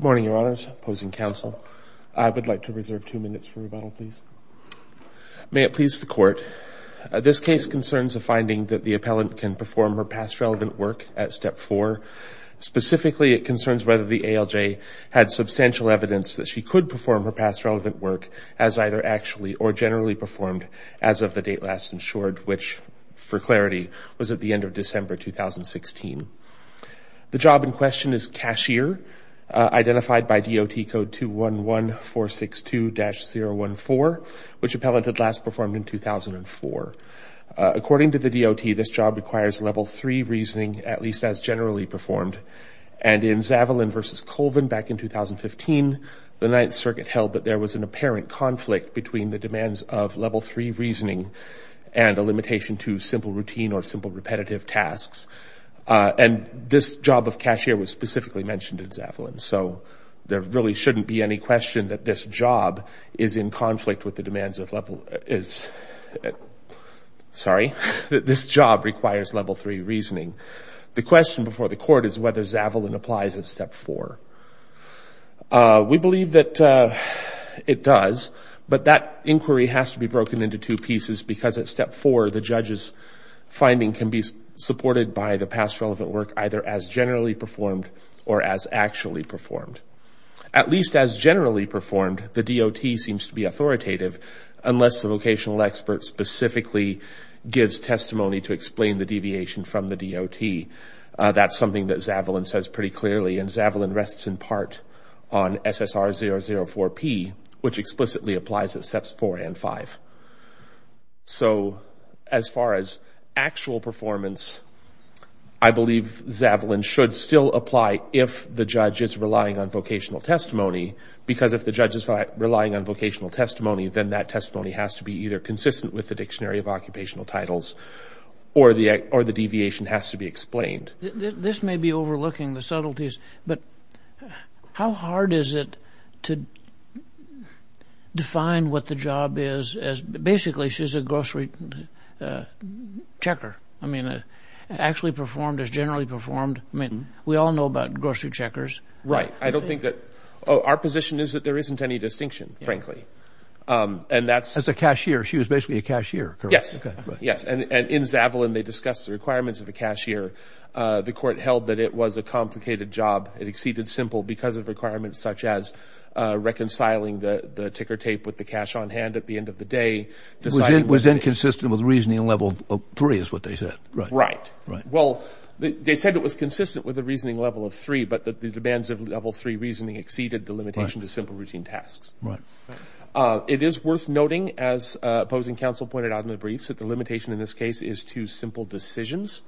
May it please the Court, this case concerns a finding that the appellant can perform her past relevant work at Step 4. Specifically, it concerns whether the ALJ had substantial evidence that she could perform her past relevant work as either actually or generally performed as of the date last ensured, which, for clarity, was at the end of December 2016. The job in question is cashier, identified by DOT Code 211462-014, which appellant had last performed in 2004. According to the DOT, this job requires Level 3 reasoning, at least as generally performed, and in Zavalin v. Colvin back in 2015, the Ninth Circuit held that there was an apparent conflict between the demands of Level 3 reasoning and a limitation to simple routine or simple repetitive tasks. And this job of cashier was specifically mentioned in Zavalin, so there really shouldn't be any question that this job is in conflict with the demands of Level 3 reasoning. The question before the Court is whether Zavalin applies at Step 4. We believe that it does, but that inquiry has to be broken into two pieces because at Step 4, the judge's finding can be supported by the past relevant work either as generally performed or as actually performed. At least as generally performed, the DOT seems to be authoritative unless the vocational expert specifically gives testimony to explain the deviation from the DOT. That's something that Zavalin says pretty clearly, and Zavalin rests in part on SSR004P, which explicitly applies at Steps 4 and 5. So as far as actual performance, I believe Zavalin should still apply if the judge is relying on vocational testimony because if the judge is relying on vocational testimony, then that testimony has to be either consistent with the Dictionary of Occupational Titles or the deviation has to be explained. This may be overlooking the subtleties, but how hard is it to define what the job is as basically she's a grocery checker? I mean, actually performed as generally performed? I mean, we all know about grocery checkers. Right. I don't think that... Our position is that there isn't any distinction, frankly. As a cashier, she was basically a cashier, correct? Yes. Yes. And in Zavalin, they discussed the requirements of a cashier. The court held that it was a complicated job. It exceeded simple because of requirements such as reconciling the ticker tape with the cash on hand at the end of the day. It was inconsistent with the reasoning level of three is what they said. Right. Well, they said it was consistent with the reasoning level of three, but that the demands of level three reasoning exceeded the limitation to simple routine tasks. Right. It is worth noting, as opposing counsel pointed out in the briefs, that the limitation in this case is to simple decisions,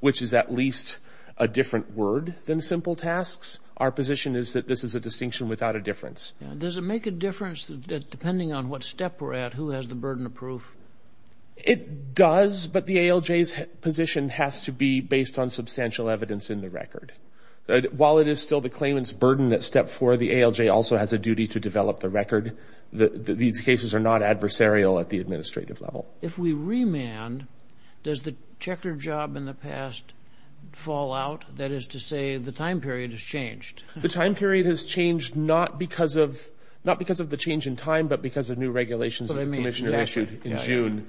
which is at least a different word than simple tasks. Our position is that this is a distinction without a difference. Does it make a difference that depending on what step we're at, who has the burden of proof? It does, but the ALJ's position has to be based on substantial evidence in the record. While it is still the claimant's burden at step four, the ALJ also has a duty to develop the record. These cases are not adversarial at the administrative level. If we remand, does the checker job in the past fall out? That is to say, the time period has changed. The time period has changed not because of the change in time, but because of new regulations that the commissioner issued in June.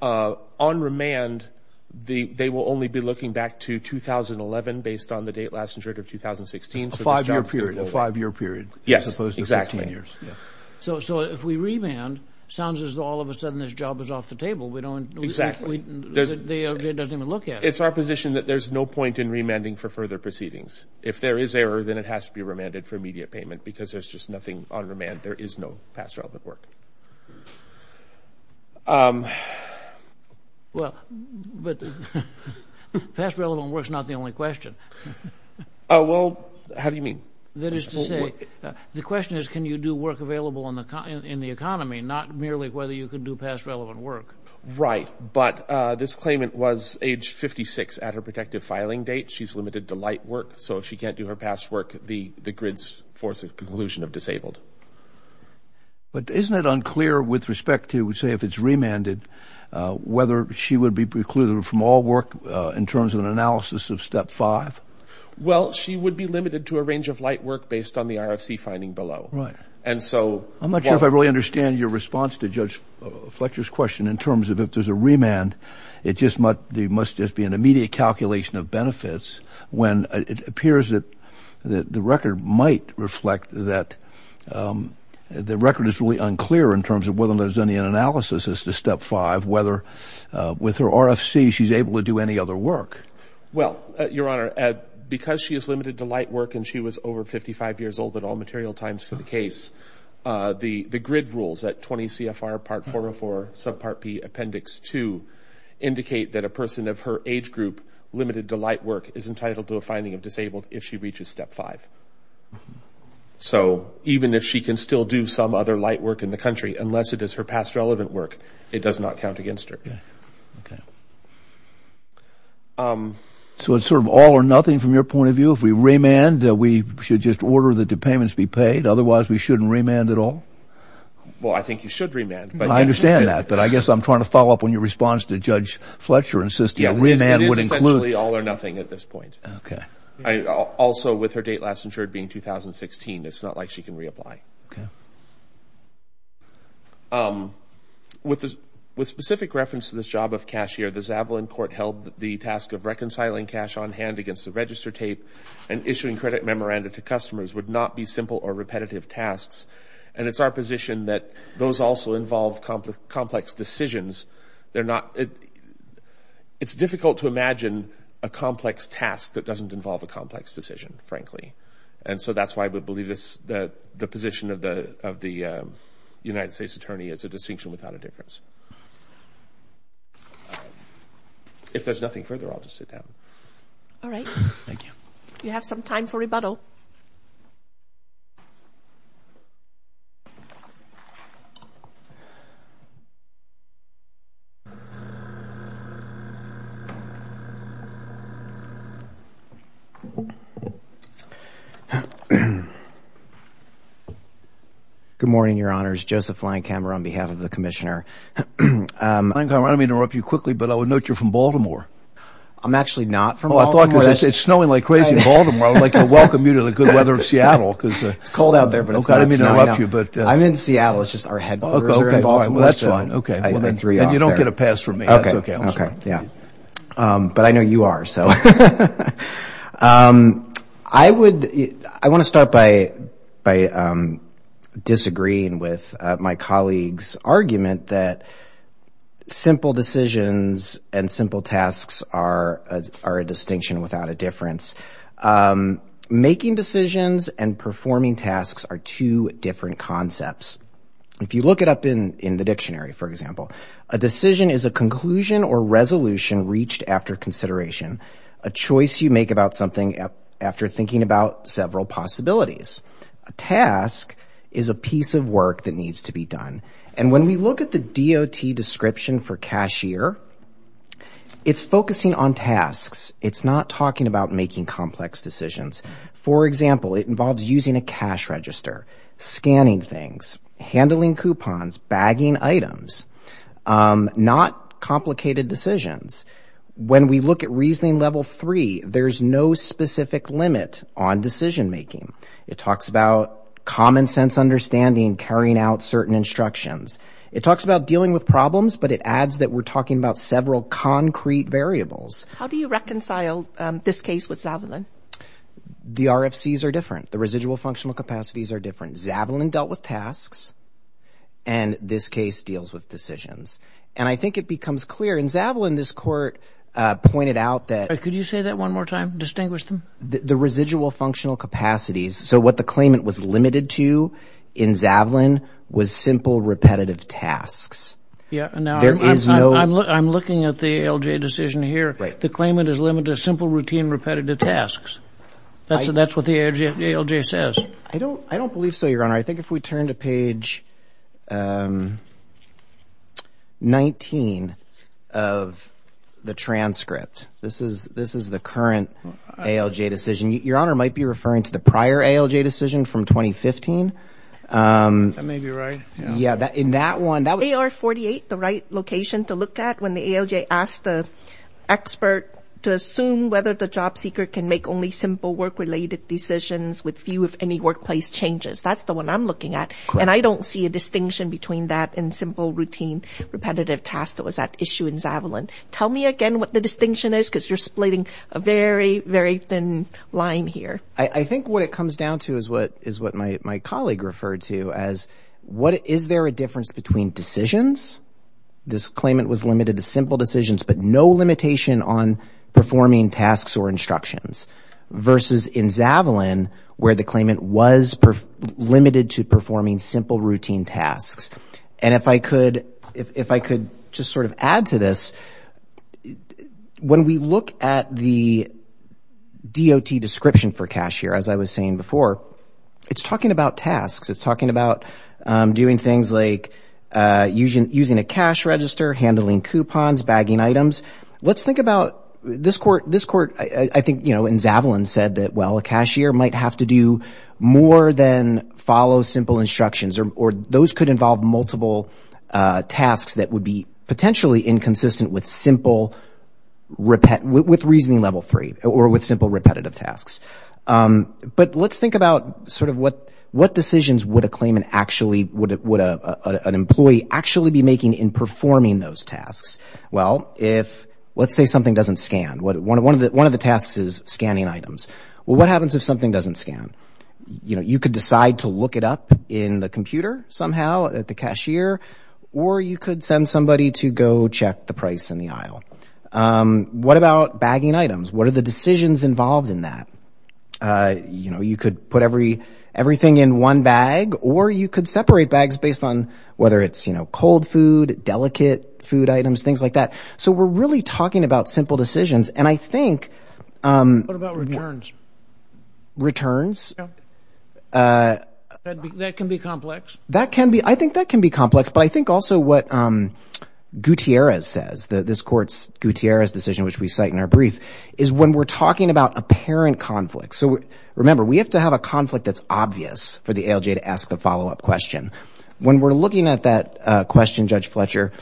On remand, they will only be looking back to 2011 based on the date last insured of 2016. A five-year period. A five-year period. Yes, exactly. As opposed to 15 years. So if we remand, it sounds as though all of a sudden this job is off the table. Exactly. The ALJ doesn't even look at it. It's our position that there's no point in remanding for further proceedings. If there is error, then it has to be remanded for immediate payment because there's just nothing on remand. There is no past relevant work. Well, but past relevant work is not the only question. Well, how do you mean? That is to say, the question is can you do work available in the economy, not merely whether you can do past relevant work. Right, but this claimant was age 56 at her protective filing date. She's limited to light work, so if she can't do her past work, the grids force a conclusion of disabled. But isn't it unclear with respect to, say, if it's remanded, whether she would be precluded from all work in terms of an analysis of Step 5? Well, she would be limited to a range of light work based on the RFC finding below. Right. I'm not sure if I really understand your response to Judge Fletcher's question in terms of if there's a remand, it must just be an immediate calculation of benefits when it appears that the record might reflect that the record is really unclear in terms of whether there's any analysis as to Step 5, whether with her RFC she's able to do any other work. Well, Your Honor, because she is limited to light work and she was over 55 years old at all material times for the case, the grid rules at 20 CFR Part 404, Subpart P, Appendix 2, indicate that a person of her age group limited to light work is entitled to a finding of disabled if she reaches Step 5. So even if she can still do some other light work in the country, unless it is her past relevant work, it does not count against her. Okay. So it's sort of all or nothing from your point of view? If we remand, we should just order that the payments be paid? Otherwise, we shouldn't remand at all? Well, I think you should remand. I understand that. But I guess I'm trying to follow up on your response to Judge Fletcher insisting that remand would include... It is essentially all or nothing at this point. Okay. Also, with her date last insured being 2016, it's not like she can reapply. Okay. With specific reference to this job of cashier, the Zavalin Court held that the task of reconciling cash on hand against the register tape and issuing credit memoranda to customers would not be simple or repetitive tasks. And it's our position that those also involve complex decisions. It's difficult to imagine a complex task that doesn't involve a complex decision, frankly. And so that's why we believe the position of the United States Attorney is a distinction without a difference. If there's nothing further, I'll just sit down. All right. Thank you. You have some time for rebuttal. Good morning, Your Honors. Joseph Linekamer on behalf of the Commissioner. Linekamer, I don't mean to interrupt you quickly, but I would note you're from Baltimore. I'm actually not from Baltimore. It's snowing like crazy in Baltimore. I'd like to welcome you to the good weather of Seattle. It's cold out there, but it's not snowing. I'm in Seattle. It's just our headquarters are in Baltimore. That's fine. And you don't get a pass from me. That's okay. Okay. But I know you are. So I want to start by disagreeing with my colleague's argument that simple decisions and simple tasks are a distinction without a difference. Making decisions and performing tasks are two different concepts. If you look it up in the dictionary, for example, a decision is a conclusion or resolution reached after consideration, a choice you make about something after thinking about several possibilities. A task is a piece of work that needs to be done. And when we look at the DOT description for cashier, it's focusing on tasks. It's not talking about making complex decisions. For example, it involves using a cash register, scanning things, handling coupons, bagging items, not complicated decisions. When we look at reasoning level three, there's no specific limit on decision making. It talks about common sense understanding, carrying out certain instructions. It talks about dealing with problems, but it adds that we're talking about several concrete variables. How do you reconcile this case with Zavalin? The RFCs are different. The residual functional capacities are different. Zavalin dealt with tasks, and this case deals with decisions. And I think it becomes clear. In Zavalin, this court pointed out that the residual functional capacities, so what the claimant was limited to in Zavalin was simple, repetitive tasks. I'm looking at the ALJ decision here. The claimant is limited to simple, routine, repetitive tasks. That's what the ALJ says. I don't believe so, Your Honor. I think if we turn to page 19 of the transcript, this is the current ALJ decision. Your Honor might be referring to the prior ALJ decision from 2015. That may be right. AR-48, the right location to look at when the ALJ asked the expert to assume whether the job seeker can make only simple work-related decisions with few, if any, workplace changes. That's the one I'm looking at. And I don't see a distinction between that and simple, routine, repetitive tasks that was at issue in Zavalin. Tell me again what the distinction is because you're splitting a very, very thin line here. I think what it comes down to is what my colleague referred to as, is there a difference between decisions? This claimant was limited to simple decisions, but no limitation on performing tasks or instructions versus in Zavalin where the claimant was limited to performing simple, routine tasks. And if I could just sort of add to this, when we look at the DOT description for CalSTRS, we see that the claimant was limited to simple, routine, repetitive tasks. And when we talk about a cashier, as I was saying before, it's talking about tasks. It's talking about doing things like using a cash register, handling coupons, bagging items. Let's think about this court, I think, you know, in Zavalin said that, well, a cashier might have to do more than follow simple instructions. Or those could involve multiple tasks that would be potentially inconsistent with simple, with reasoning level three or with simple, repetitive tasks. But let's think about sort of what decisions would a claimant actually, would an employee actually be making in performing those tasks? Well, if, let's say something doesn't scan. One of the tasks is scanning items. Well, what happens if something doesn't scan? You know, you could decide to look it up in the computer somehow at the cashier, or you could send somebody to go check the price in the aisle. You know, you could put everything in one bag, or you could separate bags based on whether it's, you know, cold food, delicate food items, things like that. So we're really talking about simple decisions. And I think... What about returns? Returns? That can be complex. That can be, I think that can be complex. But I think also what Gutierrez says, this court's Gutierrez decision, which we cite in our brief, is when we're talking about apparent conflict. So remember, we have to have a conflict that's obvious for the ALJ to ask the follow-up question. When we're looking at that question, Judge Fletcher,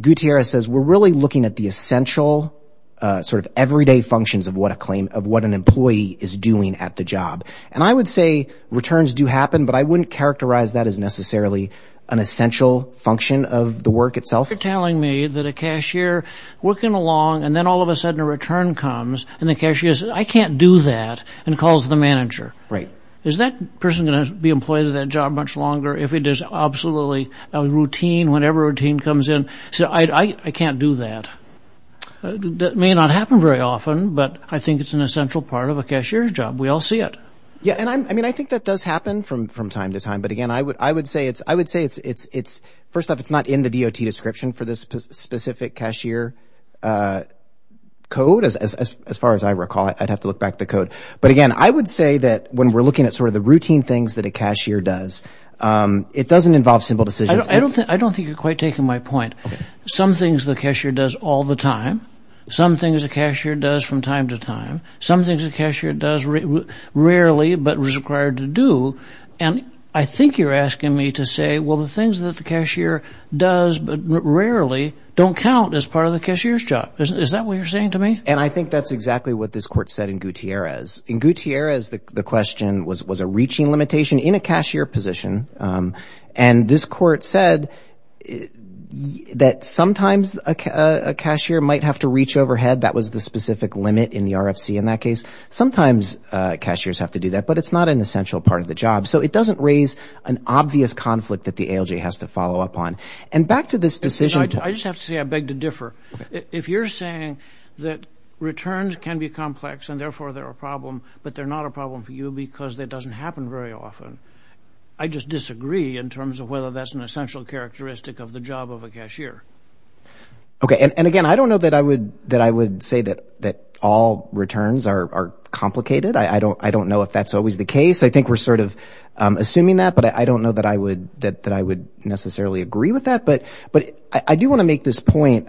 Gutierrez says, we're really looking at the essential sort of everyday functions of what a claim, of what an employee is doing at the job. And I would say returns do happen, but I wouldn't characterize that as necessarily an essential function of the work itself. You're telling me that a cashier working along, and then all of a sudden a return comes, and the cashier says, I can't do that, and calls the manager. Right. Is that person going to be employed at that job much longer if it is absolutely a routine, whenever a routine comes in? I can't do that. That may not happen very often, but I think it's an essential part of a cashier's job. We all see it. Yeah, and I mean, I think that does happen from time to time, but again, I would say it's, first off, it's not in the DOT description for this specific cashier code, as far as I recall it. I'd have to look back at the code. But again, I would say that when we're looking at sort of the routine things that a cashier does, it doesn't involve simple decisions. I don't think you're quite taking my point. Some things the cashier does all the time. Some things a cashier does from time to time. Some things a cashier does rarely, but is required to do. And I think you're asking me to say, well, the things that the cashier does, but rarely, don't count as part of the cashier's job. Is that what you're saying to me? And I think that's exactly what this court said in Gutierrez. In Gutierrez, the question was, was a reaching limitation in a cashier position. And this court said that sometimes a cashier might have to reach overhead. That was the specific limit in the RFC in that case. Sometimes cashiers have to do that, but it's not an essential part of the job. So it doesn't raise an obvious conflict that the ALJ has to follow up on. And back to this decision. I just have to say I beg to differ. If you're saying that returns can be complex and therefore they're a problem, but they're not a problem for you because it doesn't happen very often, I just disagree in terms of whether that's an essential characteristic of the job of a cashier. Okay, and again, I don't know that I would say that all returns are complicated. I don't know if that's always the case. I think we're sort of assuming that, but I don't know that I would necessarily agree with that. But I do want to make this point.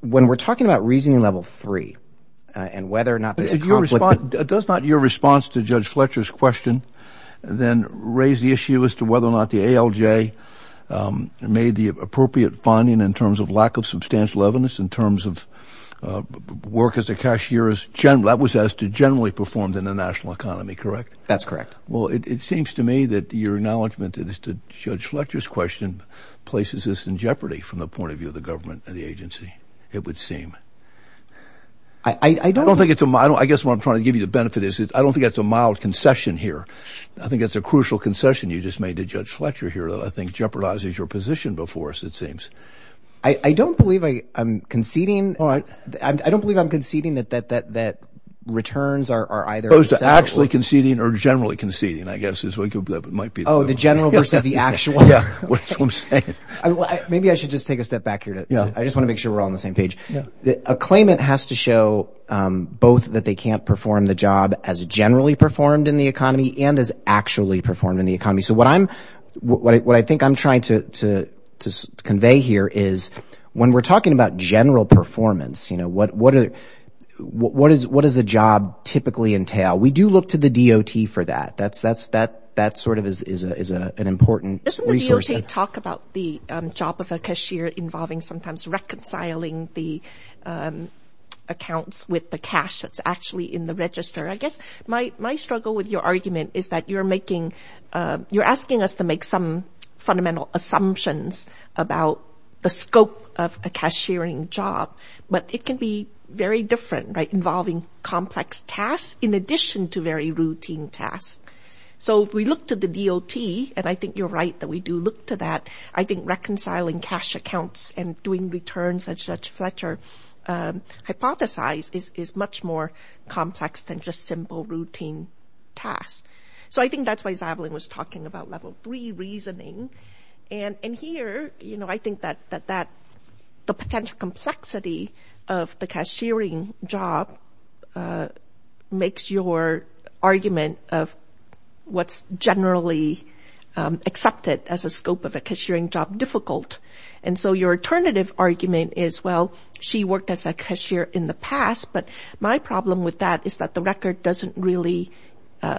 When we're talking about reasoning level three and whether or not there's a conflict. Does not your response to Judge Fletcher's question then raise the issue as to whether or not the ALJ made the appropriate finding in terms of lack of substantial evidence, in terms of work as a cashier, that was as to generally performed in the national economy, correct? That's correct. Well, it seems to me that your acknowledgement as to Judge Fletcher's question places us in jeopardy from the point of view of the government and the agency. It would seem. I guess what I'm trying to give you the benefit is I don't think that's a mild concession here. I think it's a crucial concession you just made to Judge Fletcher here that I think jeopardizes your position before us, it seems. I don't believe I'm conceding that returns are either acceptable. Actually conceding or generally conceding, I guess is what it might be. Oh, the general versus the actual. Maybe I should just take a step back here. I just want to make sure we're all on the same page. A claimant has to show both that they can't perform the job as generally performed in the economy and as actually performed in the economy. So what I think I'm trying to convey here is when we're talking about general performance, what does a job typically entail? We do look to the DOT for that. That sort of is an important resource. Doesn't the DOT talk about the job of a cashier involving sometimes reconciling the accounts with the cash that's actually in the register? I guess my struggle with your argument is that you're asking us to make some fundamental assumptions about the scope of a cashiering job. But it can be very different, involving complex tasks in addition to very routine tasks. So if we look to the DOT, and I think you're right that we do look to that, I think reconciling cash accounts and doing returns as Judge Fletcher hypothesized is much more complex than just simple routine tasks. So I think that's why Zavalin was talking about level three reasoning. And here, I think that the potential complexity of the cashiering job makes your argument of what's generally accepted as a scope of a cashiering job difficult. And so your alternative argument is, well, she worked as a cashier in the past, but my problem with that is that the record doesn't really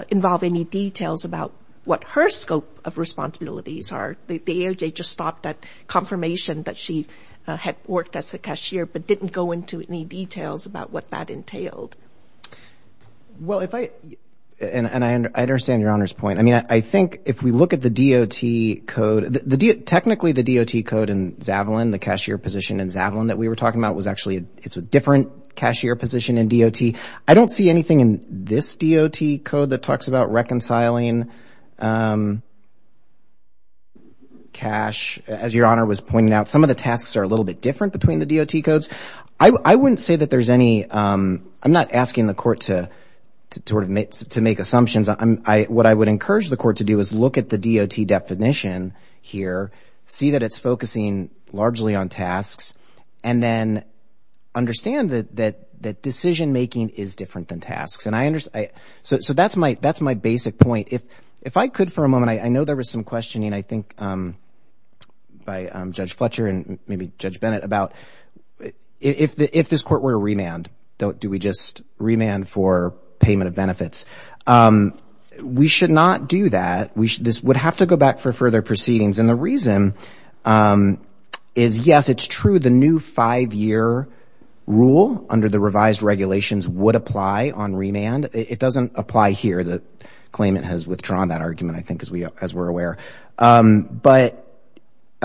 involve any details about what her scope of responsibilities are. The AOJ just stopped that confirmation that she had worked as a cashier, but didn't go into any details about what that entailed. Well, if I, and I understand Your Honor's point. I mean, I think if we look at the DOT code, technically the DOT code in Zavalin, the cashier position in Zavalin that we were talking about, it's a different cashier position in DOT. I don't see anything in this DOT code that talks about reconciling cash. As Your Honor was pointing out, some of the tasks are a little bit different between the DOT codes. I wouldn't say that there's any, I'm not asking the court to sort of make assumptions. What I would encourage the court to do is look at the DOT definition here, see that it's focusing largely on tasks, and then understand that decision-making is different than tasks. So that's my basic point. If I could for a moment, I know there was some questioning I think by Judge Fletcher and maybe Judge Bennett about if this court were to remand, do we just remand for payment of benefits? We should not do that. This would have to go back for further proceedings. And the reason is, yes, it's true, the new five-year rule under the revised regulations would apply on remand. It doesn't apply here. The claimant has withdrawn that argument, I think, as we're aware. And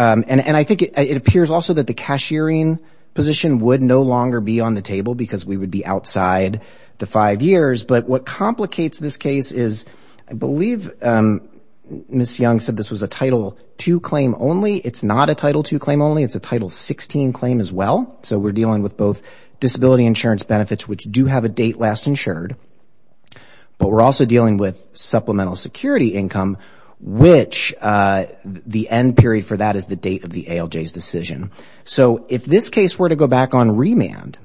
I think it appears also that the cashiering position would no longer be on the table because we would be outside the five years. But what complicates this case is I believe Ms. Young said this was a Title II claim only. It's not a Title II claim only, it's a Title XVI claim as well. So we're dealing with both disability insurance benefits, which do have a date last insured, but we're also dealing with supplemental security income, which the end period for that is the date of the ALJ's decision. So if this case were to go back on remand,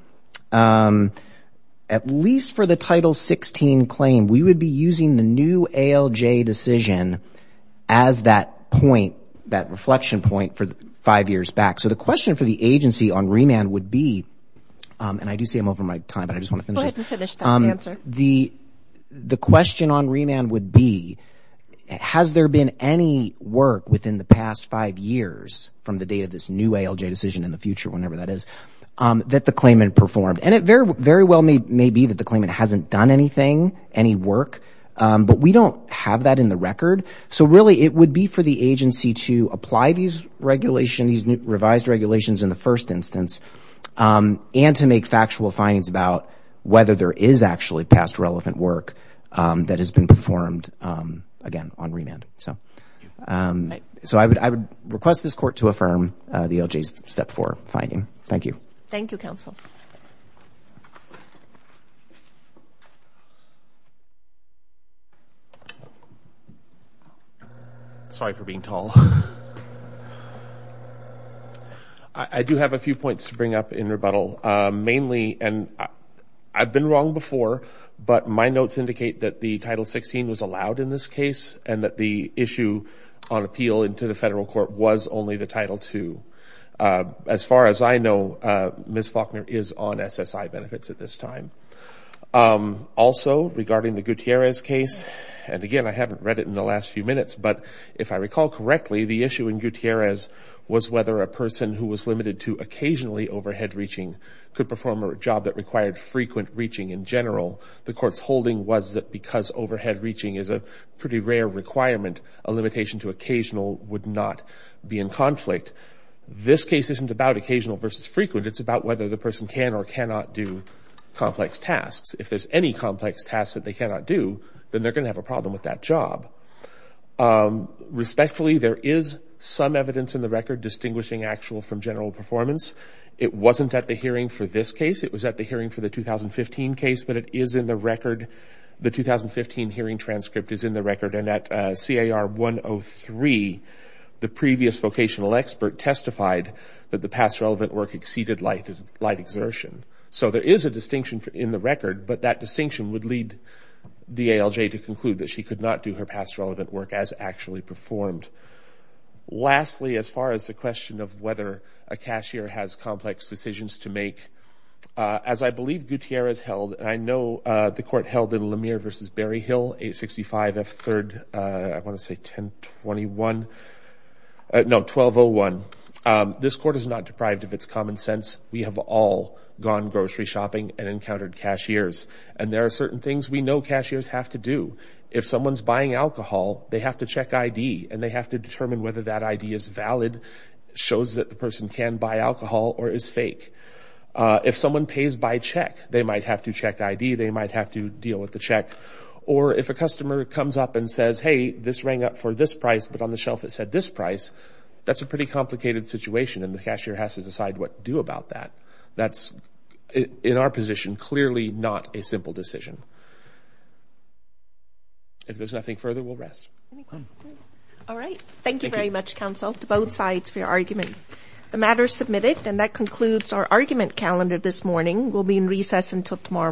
at least for the Title XVI claim, we would be using the new ALJ decision as that point, that reflection point for five years back. So the question for the agency on remand would be, and I do say I'm over my time, but I just want to finish this. Go ahead and finish that answer. The question on remand would be, has there been any work within the past five years from the date of this new ALJ decision in the future, whenever that is, that the claimant performed? And it very well may be that the claimant hasn't done anything, any work, but we don't have that in the record. So really it would be for the agency to apply these regulations, these revised regulations in the first instance, and to make factual findings about whether there is actually past relevant work that has been performed, again, on remand. So I would request this Court to affirm the ALJ's Step 4 finding. Thank you. Sorry for being tall. I do have a few points to bring up in rebuttal, mainly, and I've been wrong before, but my notes indicate that the Title 16 was allowed in this case, and that the issue on appeal into the Federal Court was only the Title 2. As far as I know, Ms. Faulkner is on SSI benefits at this time. Also, regarding the Gutierrez case, and again, I haven't read it in the last few minutes, but if I recall correctly, the issue in Gutierrez was whether a person who was limited to occasionally overhead reaching could perform a job that required frequent reaching in general. The Court's holding was that because overhead reaching is a pretty rare requirement, a limitation to occasional would not be in conflict. This case isn't about occasional versus frequent. It's about whether the person can or cannot do complex tasks. If there's any complex tasks that they cannot do, then they're going to have a problem with that job. Respectfully, there is some evidence in the record distinguishing actual from general performance. It wasn't at the hearing for this case. It was at the hearing for the 2015 case, but it is in the record. The 2015 hearing transcript is in the record, and at CAR 103, the previous vocational expert testified that the past relevant work exceeded light exertion. So there is a distinction in the record, but that distinction would lead the ALJ to conclude that she could not do her past relevant work as actually performed. Lastly, as far as the question of whether a cashier has complex decisions to make, as I believe Gutierrez held, and I know the Court held in Lemire v. Berryhill, 865 F. 3rd, I want to say 1021. No, 1201. This Court is not deprived of its common sense. We have all gone grocery shopping and encountered cashiers, and there are certain things we know cashiers have to do. If someone's buying alcohol, they have to check ID, and they have to determine whether that ID is valid, shows that the person can buy alcohol, or is fake. If someone pays by check, they might have to check ID, they might have to deal with the check. Or if a customer comes up and says, hey, this rang up for this price, but on the shelf it said this price, that's a pretty complicated situation, and the cashier has to decide what to do about that. That's, in our position, clearly not a simple decision. If there's nothing further, we'll rest. All right. Thank you very much, Counsel, to both sides for your argument. The matter is submitted, and that concludes our argument calendar this morning. We'll be in recess until tomorrow morning.